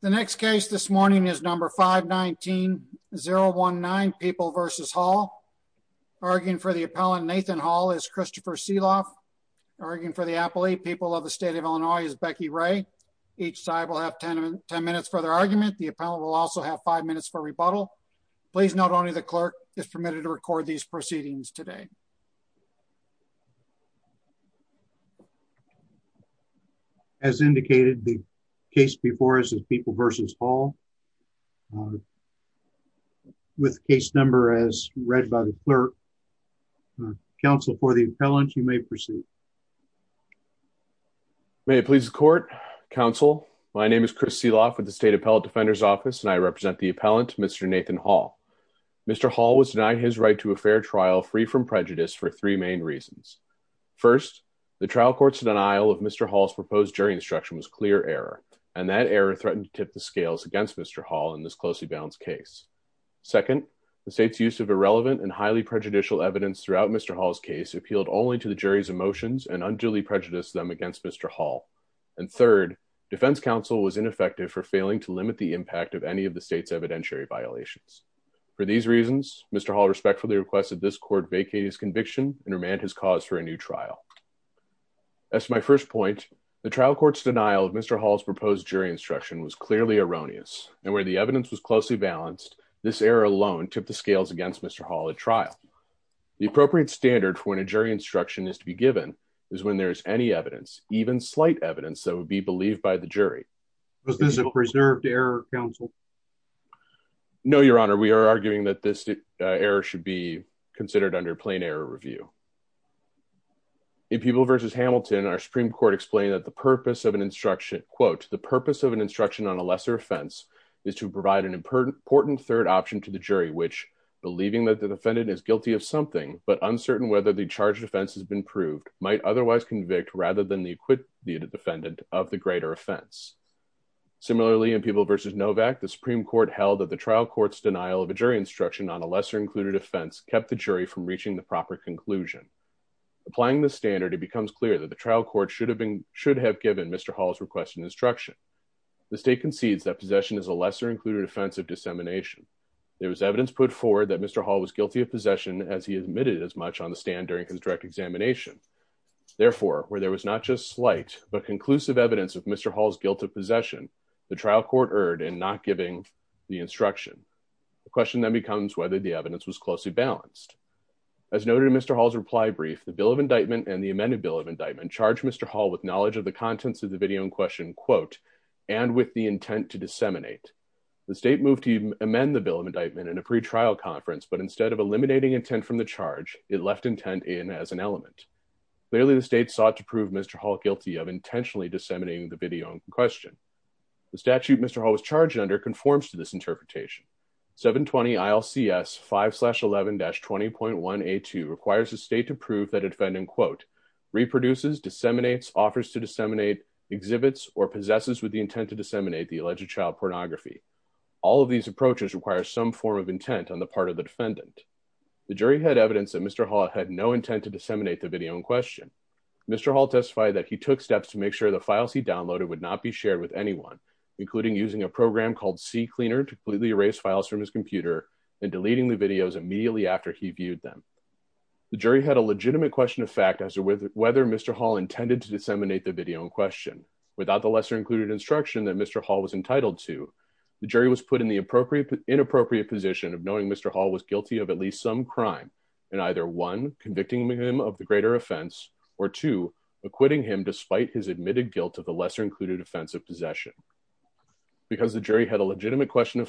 The next case this morning is number 519-019 People v. Hall. Arguing for the appellant Nathan Hall is Christopher Seeloff. Arguing for the appellate People of the State of Illinois is Becky Ray. Each side will have 10 minutes for their argument. The appellant will also have 5 minutes for rebuttal. Please note only the clerk is permitted to record these proceedings today. As indicated, the case before us is People v. Hall. With case number as read by the clerk. Counsel for the appellant, you may proceed. May it please the court. Counsel, my name is Chris Seeloff with the State Appellate Defender's Office and I represent the appellant Mr. Nathan Hall. Mr. Hall was denied his right to a fair trial free from prejudice for three main reasons. First, the trial court's denial of Mr. Hall's proposed jury instruction was clear error and that error threatened to tip the scales against Mr. Hall in this closely balanced case. Second, the state's use of irrelevant and highly prejudicial evidence throughout Mr. Hall's case appealed only to the jury's emotions and unduly prejudiced them against Mr. Hall. And third, defense counsel was ineffective for failing to limit the impact of any of the conviction and remand his cause for a new trial. As to my first point, the trial court's denial of Mr. Hall's proposed jury instruction was clearly erroneous and where the evidence was closely balanced, this error alone tipped the scales against Mr. Hall at trial. The appropriate standard for when a jury instruction is to be given is when there is any evidence, even slight evidence that would be believed by the jury. Was this a preserved error, counsel? No, your honor. We are arguing that this error should be considered under plain error review. In People v. Hamilton, our Supreme Court explained that the purpose of an instruction, quote, the purpose of an instruction on a lesser offense is to provide an important third option to the jury, which believing that the defendant is guilty of something, but uncertain whether the charge defense has been proved, might otherwise convict rather than the acquitted defendant of the greater offense. Similarly, in People v. Novak, the Supreme Court held that the trial court's denial of a jury instruction on a lesser included offense kept the jury from reaching the proper conclusion. Applying the standard, it becomes clear that the trial court should have given Mr. Hall's requested instruction. The state concedes that possession is a lesser included offense of dissemination. There was evidence put forward that Mr. Hall was guilty of possession as he admitted as much on the stand during his direct examination. Therefore, where there was not just slight, but conclusive evidence of Mr. Hall's guilt of possession, the trial court erred in not giving the instruction. The question then becomes whether the evidence was closely balanced. As noted in Mr. Hall's reply brief, the Bill of Indictment and the amended Bill of Indictment charged Mr. Hall with knowledge of the contents of the video in question, quote, and with the intent to disseminate. The state moved to amend the Bill of Indictment in a pretrial conference, but instead of eliminating intent from the charge, it left intent in as an element. Clearly, the state sought to prove Mr. Hall guilty of intentionally disseminating the video in question. The statute Mr. Junder conforms to this interpretation. 720 ILCS 5-11-20.1A2 requires the state to prove that a defendant, quote, reproduces, disseminates, offers to disseminate, exhibits, or possesses with the intent to disseminate the alleged child pornography. All of these approaches require some form of intent on the part of the defendant. The jury had evidence that Mr. Hall had no intent to disseminate the video in question. Mr. Hall testified that he took steps to make sure the to completely erase files from his computer and deleting the videos immediately after he viewed them. The jury had a legitimate question of fact as to whether Mr. Hall intended to disseminate the video in question. Without the lesser included instruction that Mr. Hall was entitled to, the jury was put in the inappropriate position of knowing Mr. Hall was guilty of at least some crime in either one, convicting him of the greater offense, or two, acquitting him despite his of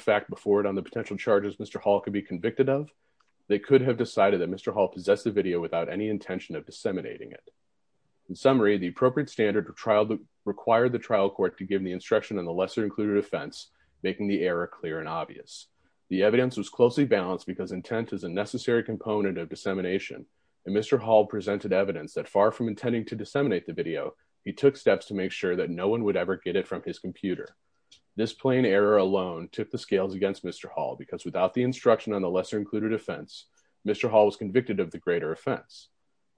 fact before it on the potential charges Mr. Hall could be convicted of, they could have decided that Mr. Hall possessed the video without any intention of disseminating it. In summary, the appropriate standard required the trial court to give the instruction on the lesser included offense, making the error clear and obvious. The evidence was closely balanced because intent is a necessary component of dissemination, and Mr. Hall presented evidence that far from intending to disseminate the video, he took steps to make sure that no one would ever get it from his computer. This plain error alone took the scales against Mr. Hall because without the instruction on the lesser included offense, Mr. Hall was convicted of the greater offense.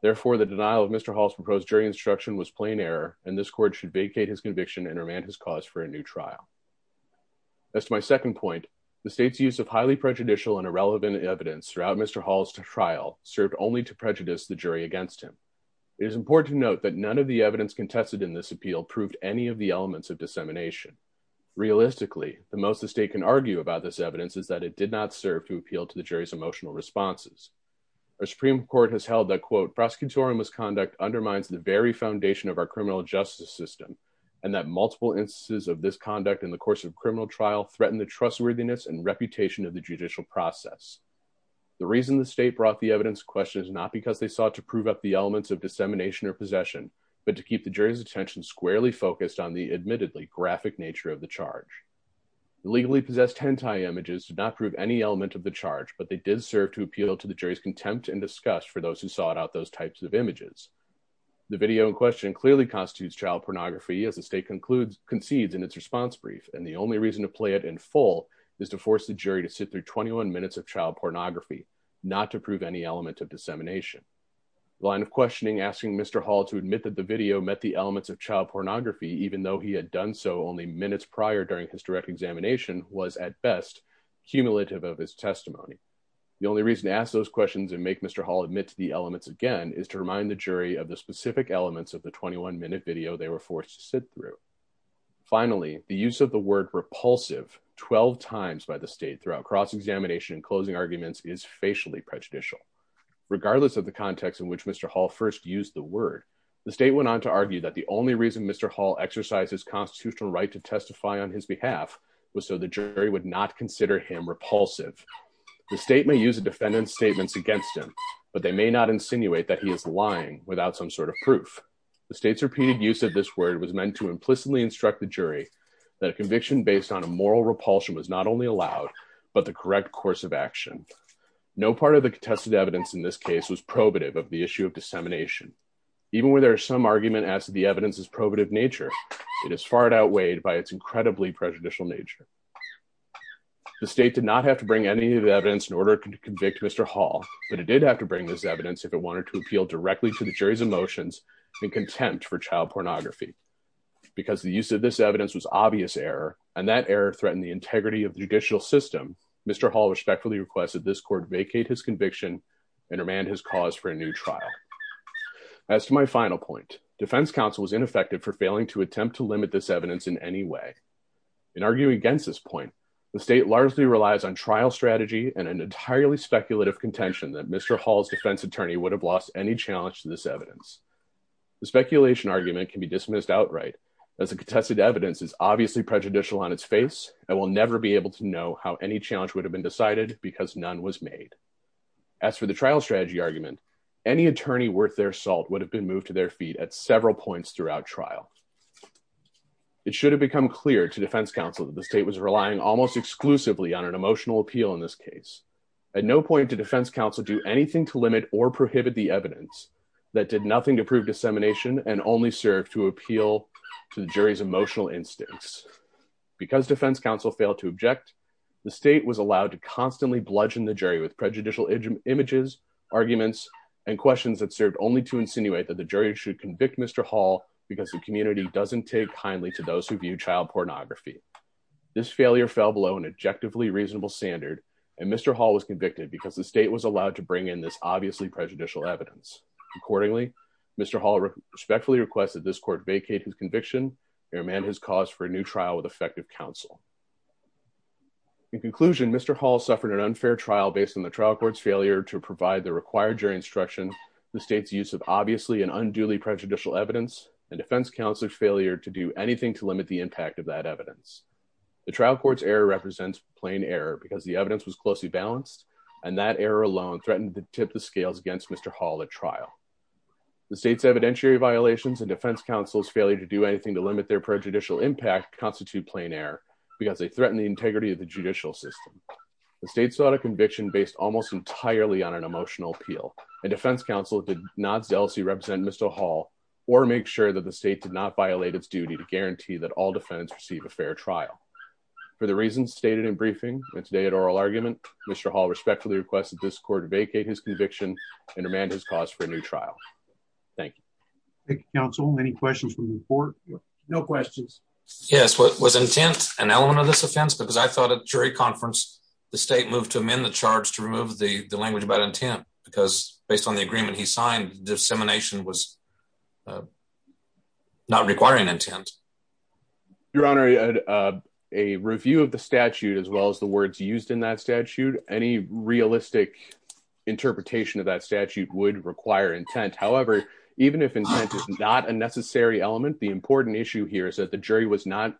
Therefore, the denial of Mr. Hall's proposed jury instruction was plain error, and this court should vacate his conviction and remand his cause for a new trial. As to my second point, the state's use of highly prejudicial and irrelevant evidence throughout Mr. Hall's trial served only to prejudice the jury against him. It is important to note that none of the evidence contested in this appeal proved any of the elements of dissemination. Realistically, the most the state can argue about this evidence is that it did not serve to appeal to the jury's emotional responses. Our Supreme Court has held that, quote, prosecutorial misconduct undermines the very foundation of our criminal justice system, and that multiple instances of this conduct in the course of criminal trial threaten the trustworthiness and reputation of the judicial process. The reason the state brought the evidence to question is not because they sought to prove up elements of dissemination or possession, but to keep the jury's attention squarely focused on the admittedly graphic nature of the charge. The legally possessed hentai images did not prove any element of the charge, but they did serve to appeal to the jury's contempt and disgust for those who sought out those types of images. The video in question clearly constitutes child pornography as the state concedes in its response brief, and the only reason to play it in full is to force the jury to sit through 21 minutes of child pornography, not to prove any element of dissemination. The line of questioning asking Mr. Hall to admit that the video met the elements of child pornography, even though he had done so only minutes prior during his direct examination, was at best cumulative of his testimony. The only reason to ask those questions and make Mr. Hall admit to the elements again is to remind the jury of the specific elements of the 21-minute video they were forced to sit through. Finally, the use of the word repulsive 12 times by the state throughout cross-examination and closing arguments is facially prejudicial. Regardless of the context in which Mr. Hall first used the word, the state went on to argue that the only reason Mr. Hall exercised his constitutional right to testify on his behalf was so the jury would not consider him repulsive. The state may use the defendant's statements against him, but they may not insinuate that he is lying without some sort of proof. The state's repeated use of this word was meant to implicitly instruct the jury that a conviction based on a moral repulsion was not only allowed, but the correct course of action. No part of the contested evidence in this case was probative of the issue of dissemination. Even where there is some argument as to the evidence's probative nature, it is far outweighed by its incredibly prejudicial nature. The state did not have to bring any of the evidence in order to convict Mr. Hall, but it did have to bring this evidence if it wanted to appeal directly to the jury's emotions and contempt for child pornography. Because the use of this evidence was obvious error, and that error threatened the integrity of the judicial system, Mr. Hall respectfully requested this court vacate his conviction and remand his cause for a new trial. As to my final point, defense counsel was ineffective for failing to attempt to limit this evidence in any way. In arguing against this point, the state largely relies on trial strategy and an entirely speculative contention that Mr. Hall's defense attorney would have lost any challenge to this evidence. The speculation argument can be dismissed outright as the contested evidence is obviously prejudicial on its face and will never be able to know how any challenge would have been decided because none was made. As for the trial strategy argument, any attorney worth their salt would have been moved to their feet at several points throughout trial. It should have become clear to defense counsel that the state was relying almost exclusively on an emotional appeal in this case. At no point did defense counsel do anything to limit or prohibit the evidence that did nothing to prove dissemination and only serve to appeal to the jury's emotional instincts. Because defense counsel failed to object, the state was allowed to constantly bludgeon the jury with prejudicial images, arguments, and questions that served only to insinuate that the jury should convict Mr. Hall because the community doesn't take kindly to those who view child pornography. This failure fell below an objectively reasonable standard, and Mr. Hall was convicted because the state was allowed to bring in this obviously prejudicial evidence. Accordingly, Mr. Hall respectfully requested this court vacate his conviction and remand his cause for a new trial with effective counsel. In conclusion, Mr. Hall suffered an unfair trial based on the trial court's failure to provide the required jury instruction, the state's use of obviously and unduly prejudicial evidence, and defense counsel's failure to do anything to limit the impact of that evidence. The trial court's error represents plain error because the evidence was closely balanced, and that error alone threatened to tip the scales against Mr. Hall at trial. The state's evidentiary violations and defense counsel's failure to do anything to limit their prejudicial impact constitute plain error because they threaten the integrity of the judicial system. The state sought a conviction based almost entirely on an emotional appeal, and defense counsel did not zealously represent Mr. Hall or make sure that the state did not violate its duty to guarantee that all defendants receive a fair trial. For the reasons stated in briefing and today at oral argument, Mr. Hall respectfully requested this court vacate his conviction and remand his cause for a new trial. Thank you. Thank you, counsel. Any questions from the court? No questions. Yes, was intent an element of this offense? Because I thought at jury conference, the state moved to amend the charge to remove the language about intent, because based on the agreement he signed, dissemination was not requiring intent. Your Honor, a review of the statute as well as the words used in that statute, any realistic interpretation of that statute would require intent. However, even if intent is not a necessary element, the important issue here is that the jury was not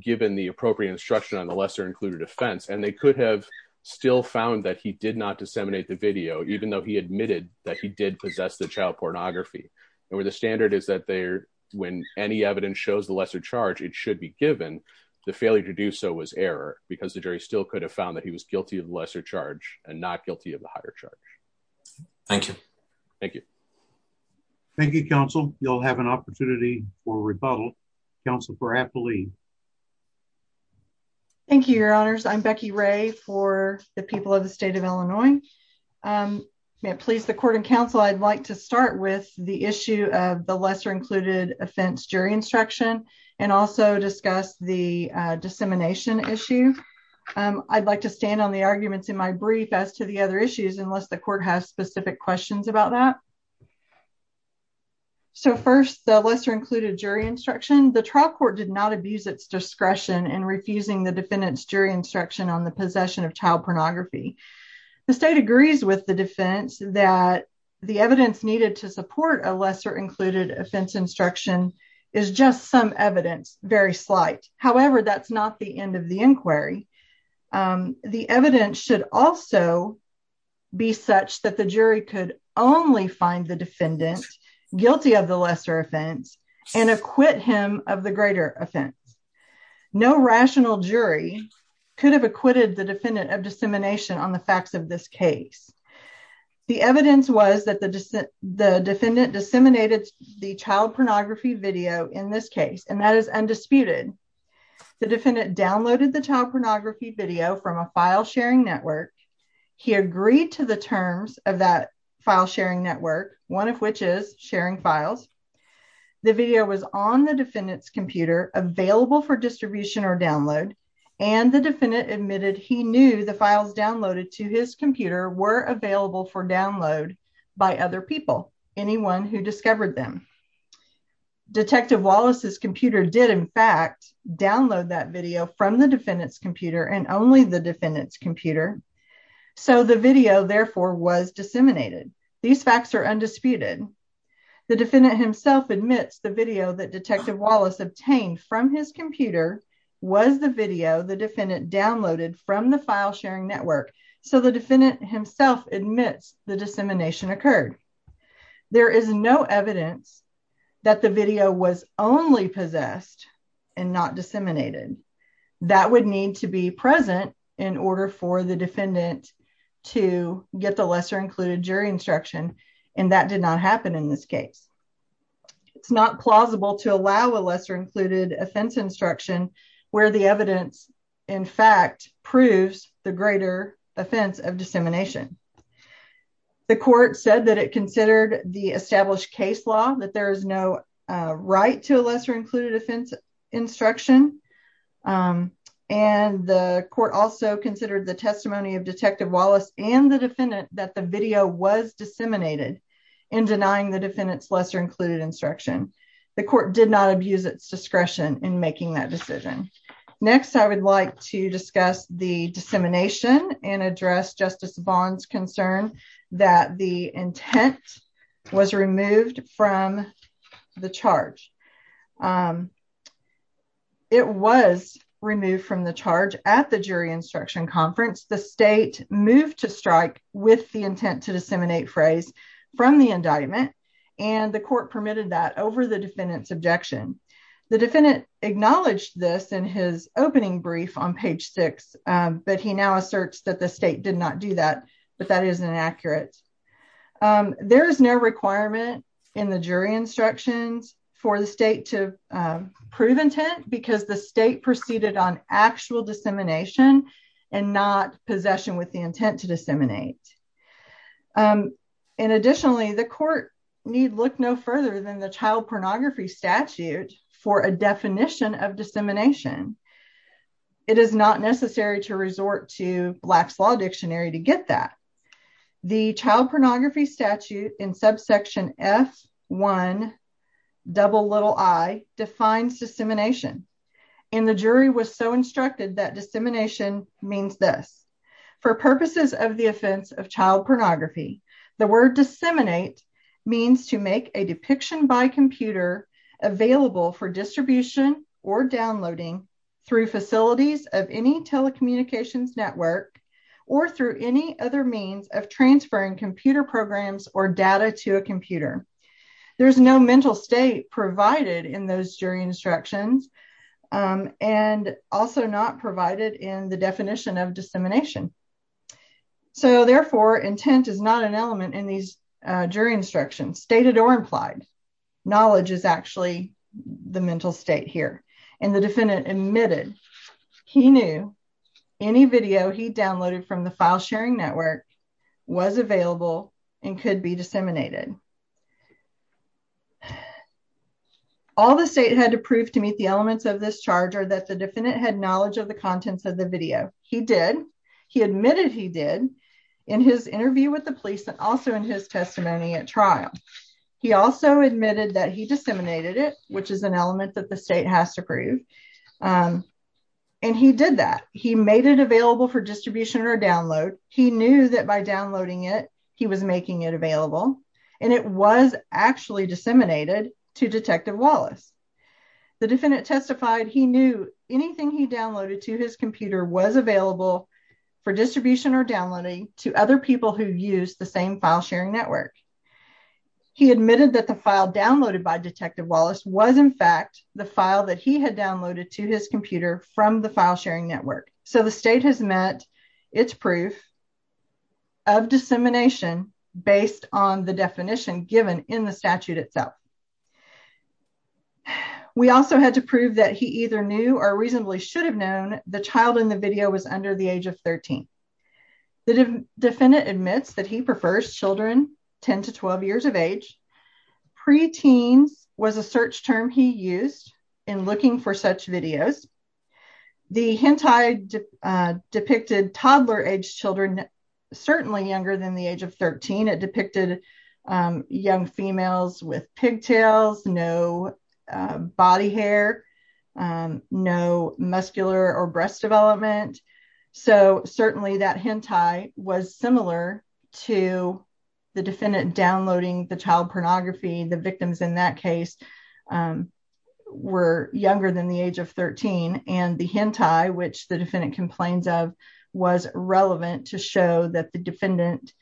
given the appropriate instruction on the lesser included offense, and they could have still found that he did not disseminate the video, even though he admitted that he did possess the child pornography. And where the standard is that when any evidence shows the lesser charge, it should be given, the failure to do so was error, because the jury still could have found that he was guilty of lesser charge and not guilty of the higher charge. Thank you. Thank you. Thank you, counsel. You'll have an opportunity for rebuttal. Council for happily. Thank you, Your Honors. I'm Becky Ray for the people of the state of Illinois. Please the court and counsel, I'd like to start with the issue of the lesser included offense jury instruction, and also discuss the dissemination issue. I'd like to stand on the arguments in my brief as to the other issues, unless the court has specific questions about that. So first, the lesser included jury instruction, the trial court did not abuse its discretion and refusing the defendant's jury instruction on the possession of child pornography. The state agrees with the defense that the evidence needed to support a lesser included offense instruction is just some evidence, very slight. However, that's not the end of the inquiry. The evidence should also be such that the jury could only find the defendant guilty of the lesser offense and acquit him of the greater offense. No rational jury could have acquitted the defendant of dissemination on the facts of this case. The evidence was that the defendant disseminated the child pornography video in this video from a file sharing network. He agreed to the terms of that file sharing network, one of which is sharing files. The video was on the defendant's computer available for distribution or download. And the defendant admitted he knew the files downloaded to his computer were available for download by other people, anyone who discovered them. Detective Wallace's computer did, in fact, download that video from the defendant's computer and only the defendant's computer. So the video therefore was disseminated. These facts are undisputed. The defendant himself admits the video that Detective Wallace obtained from his computer was the video the defendant downloaded from the file sharing network. So the defendant himself admits the dissemination occurred. There is no evidence that the video was only possessed and not disseminated. That would need to be present in order for the defendant to get the lesser included jury instruction. And that did not happen in this case. It's not plausible to allow a lesser included offense instruction where the evidence, in fact, proves the greater offense of dissemination. The court said that it considered the established case law that there is no right to a lesser included offense instruction. And the court also considered the testimony of Detective Wallace and the defendant that the video was disseminated in denying the defendant's lesser included instruction. The court did not abuse its decision. Next, I would like to discuss the dissemination and address Justice Bond's concern that the intent was removed from the charge. It was removed from the charge at the jury instruction conference. The state moved to strike with the intent to disseminate phrase from the indictment and the court permitted that over the defendant's objection. The defendant acknowledged this in his opening brief on page six, but he now asserts that the state did not do that, but that is inaccurate. There is no requirement in the jury instructions for the state to prove intent because the state proceeded on actual dissemination and not possession with the intent to disseminate. And additionally, the court need look no further than the child of dissemination. It is not necessary to resort to Black's Law Dictionary to get that. The child pornography statute in subsection F1 double little I defines dissemination. And the jury was so instructed that dissemination means this. For purposes of the offense of child or downloading through facilities of any telecommunications network or through any other means of transferring computer programs or data to a computer. There is no mental state provided in those jury instructions and also not provided in the definition of dissemination. So, therefore, intent is not an element in these jury instructions, stated or implied. Knowledge is actually the mental state here. And the defendant admitted he knew any video he downloaded from the file sharing network was available and could be disseminated. All the state had to prove to meet the elements of this charge are that the defendant had knowledge of the contents of the video. He did. He admitted he did in his interview with the he disseminated it, which is an element that the state has to prove. And he did that. He made it available for distribution or download. He knew that by downloading it, he was making it available. And it was actually disseminated to Detective Wallace. The defendant testified he knew anything he downloaded to his computer was available for distribution or downloading to other people who use the same file sharing network. He admitted that the file downloaded by Detective Wallace was, in fact, the file that he had downloaded to his computer from the file sharing network. So, the state has met its proof of dissemination based on the definition given in the statute itself. We also had to prove that he either knew or reasonably should have known the child in the video was under the age of 13. The defendant admits that he prefers children 10 to 12 years of age. Pre-teens was a search term he used in looking for such videos. The hentai depicted toddler age children, certainly younger than the age of 13. It depicted young females with pigtails, no body hair, no muscular or breast development. So, certainly that hentai was similar to the defendant downloading the child pornography. The victims in that case were younger than the age of 13. And the hentai, which the defendant complains of, was relevant to show that the defendant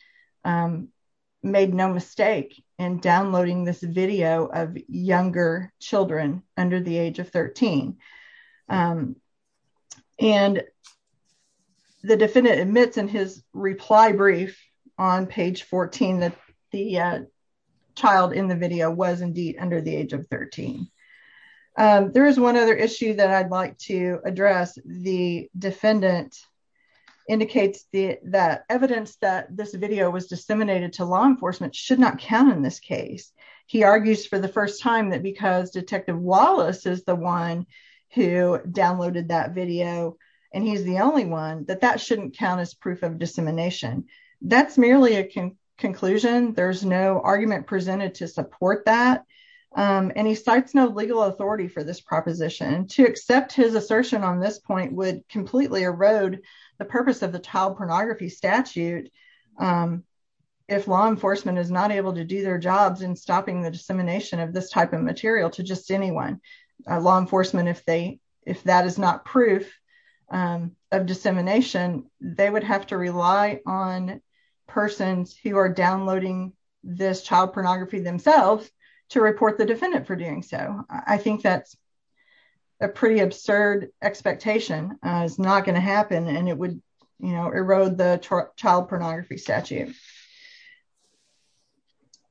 made no mistake in downloading this video of younger children under the age of 13. And the defendant admits in his reply brief on page 14 that the child in the video was indeed under the age of 13. There is one other issue that I'd like to address. The defendant indicates that evidence that this video was disseminated to law enforcement should not count in this case. He argues for the first time that because Detective Wallace is the one who downloaded that video, and he's the only one, that that shouldn't count as proof of dissemination. That's merely a conclusion. There's no argument presented to support that. And he cites no legal authority for this proposition. To accept his assertion on this point would completely erode the purpose of stopping the dissemination of this type of material to just anyone. Law enforcement, if that is not proof of dissemination, they would have to rely on persons who are downloading this child pornography themselves to report the defendant for doing so. I think that's a pretty absurd expectation. It's not going to happen, and it would erode the child pornography statute.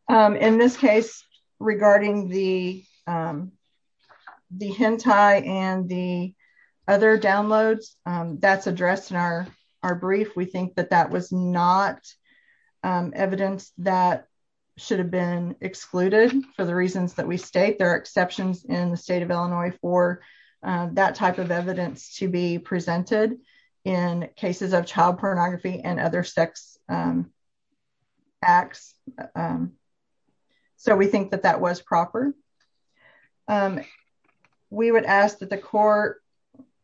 In this case, regarding the hentai and the other downloads that's addressed in our brief, we think that that was not evidence that should have been excluded for the reasons that we state. There are exceptions in the state of Illinois for that type of evidence to be presented in cases of child pornography and other sex acts, so we think that that was proper. We would ask that the court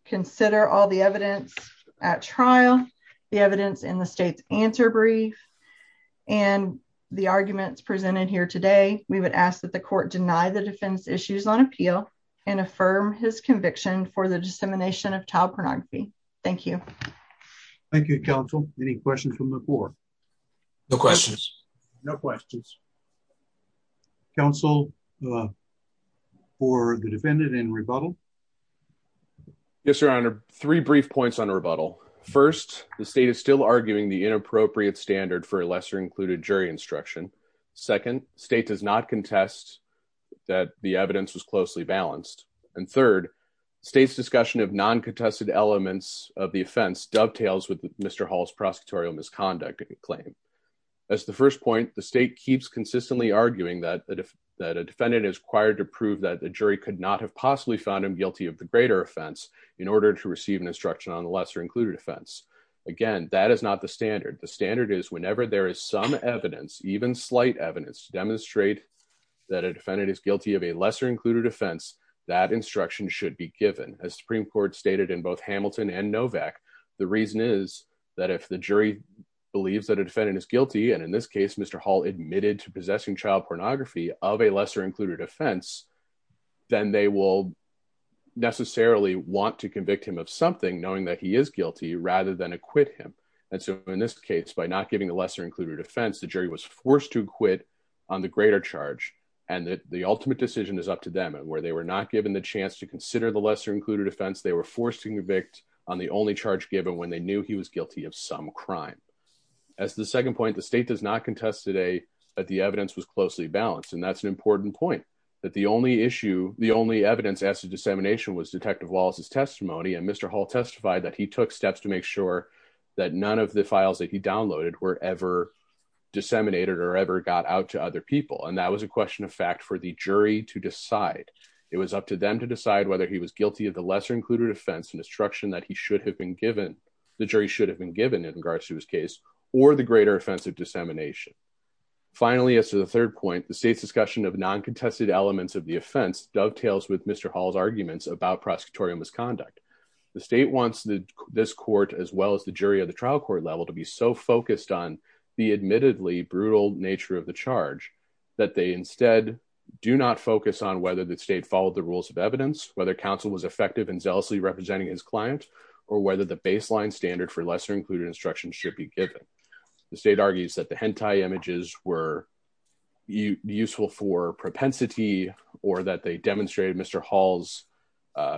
consider all the evidence at trial, the evidence in the state's answer brief, and the arguments presented here today. We would ask that the court deny the defense issues on appeal and affirm his conviction for the dissemination of child pornography. Thank you. Thank you, counsel. Any questions from the board? No questions. No questions. Counsel for the defendant in rebuttal? Yes, your honor. Three brief points on rebuttal. First, the state is still arguing the inappropriate standard for a lesser-included jury instruction. Second, state does not contest that the evidence was closely balanced. And third, state's discussion of non-contested elements of the offense dovetails with Mr. Hall's prosecutorial misconduct claim. As the first point, the state keeps consistently arguing that a defendant is required to prove that the jury could not have possibly found him guilty of the greater offense in order to receive an instruction on the lesser-included offense. Again, that is not the standard. The standard is whenever there is some evidence, even slight evidence, to demonstrate that a defendant is guilty of a lesser-included offense, that instruction should be given. As Supreme Court stated in both Hamilton and Novak, the reason is that if the jury believes that a defendant is guilty, and in this case, Mr. Hall admitted to possessing child pornography of a lesser-included offense, then they will necessarily want to convict him of something knowing that he is guilty rather than acquit him. And so in this case, by not giving a lesser-included offense, the jury was forced to acquit on the greater charge and that the ultimate decision is up to them. And where they were not given the chance to consider the lesser-included offense, they were forced to convict on the only charge given when they knew he was guilty of some crime. As the second point, the state does not contest today that the evidence was closely balanced. And that's an important point, that the only issue, the only evidence as to dissemination was Detective Wallace's testimony. And Mr. Hall testified that he took steps to make sure that none of the files that he downloaded were ever disseminated or ever got out to other people. And that was a question of fact for the jury to decide. It was up to them to decide whether he was guilty of the lesser-included offense, an instruction that he should have been given, the jury should have been given in regards to his case, or the greater offense of dissemination. Finally, as to the third point, the state's discussion of non-contested elements of the offense dovetails with Mr. Hall's arguments about prosecutorial misconduct. The state wants this jury of the trial court level to be so focused on the admittedly brutal nature of the charge, that they instead do not focus on whether the state followed the rules of evidence, whether counsel was effective in zealously representing his client, or whether the baseline standard for lesser-included instruction should be given. The state argues that the hentai images were useful for propensity, or that they demonstrated Mr. Hall's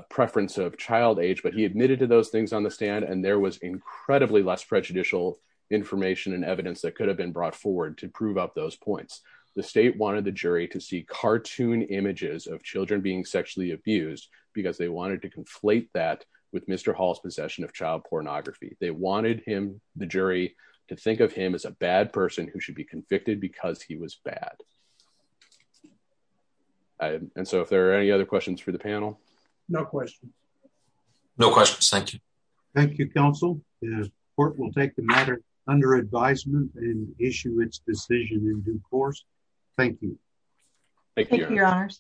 preference of child age, he admitted to those things on the stand, and there was incredibly less prejudicial information and evidence that could have been brought forward to prove up those points. The state wanted the jury to see cartoon images of children being sexually abused, because they wanted to conflate that with Mr. Hall's possession of child pornography. They wanted him, the jury, to think of him as a bad person who should be convicted because he was bad. No questions. No questions. Thank you. Thank you, counsel. The court will take the matter under advisement and issue its decision in due course. Thank you. Thank you, your honors.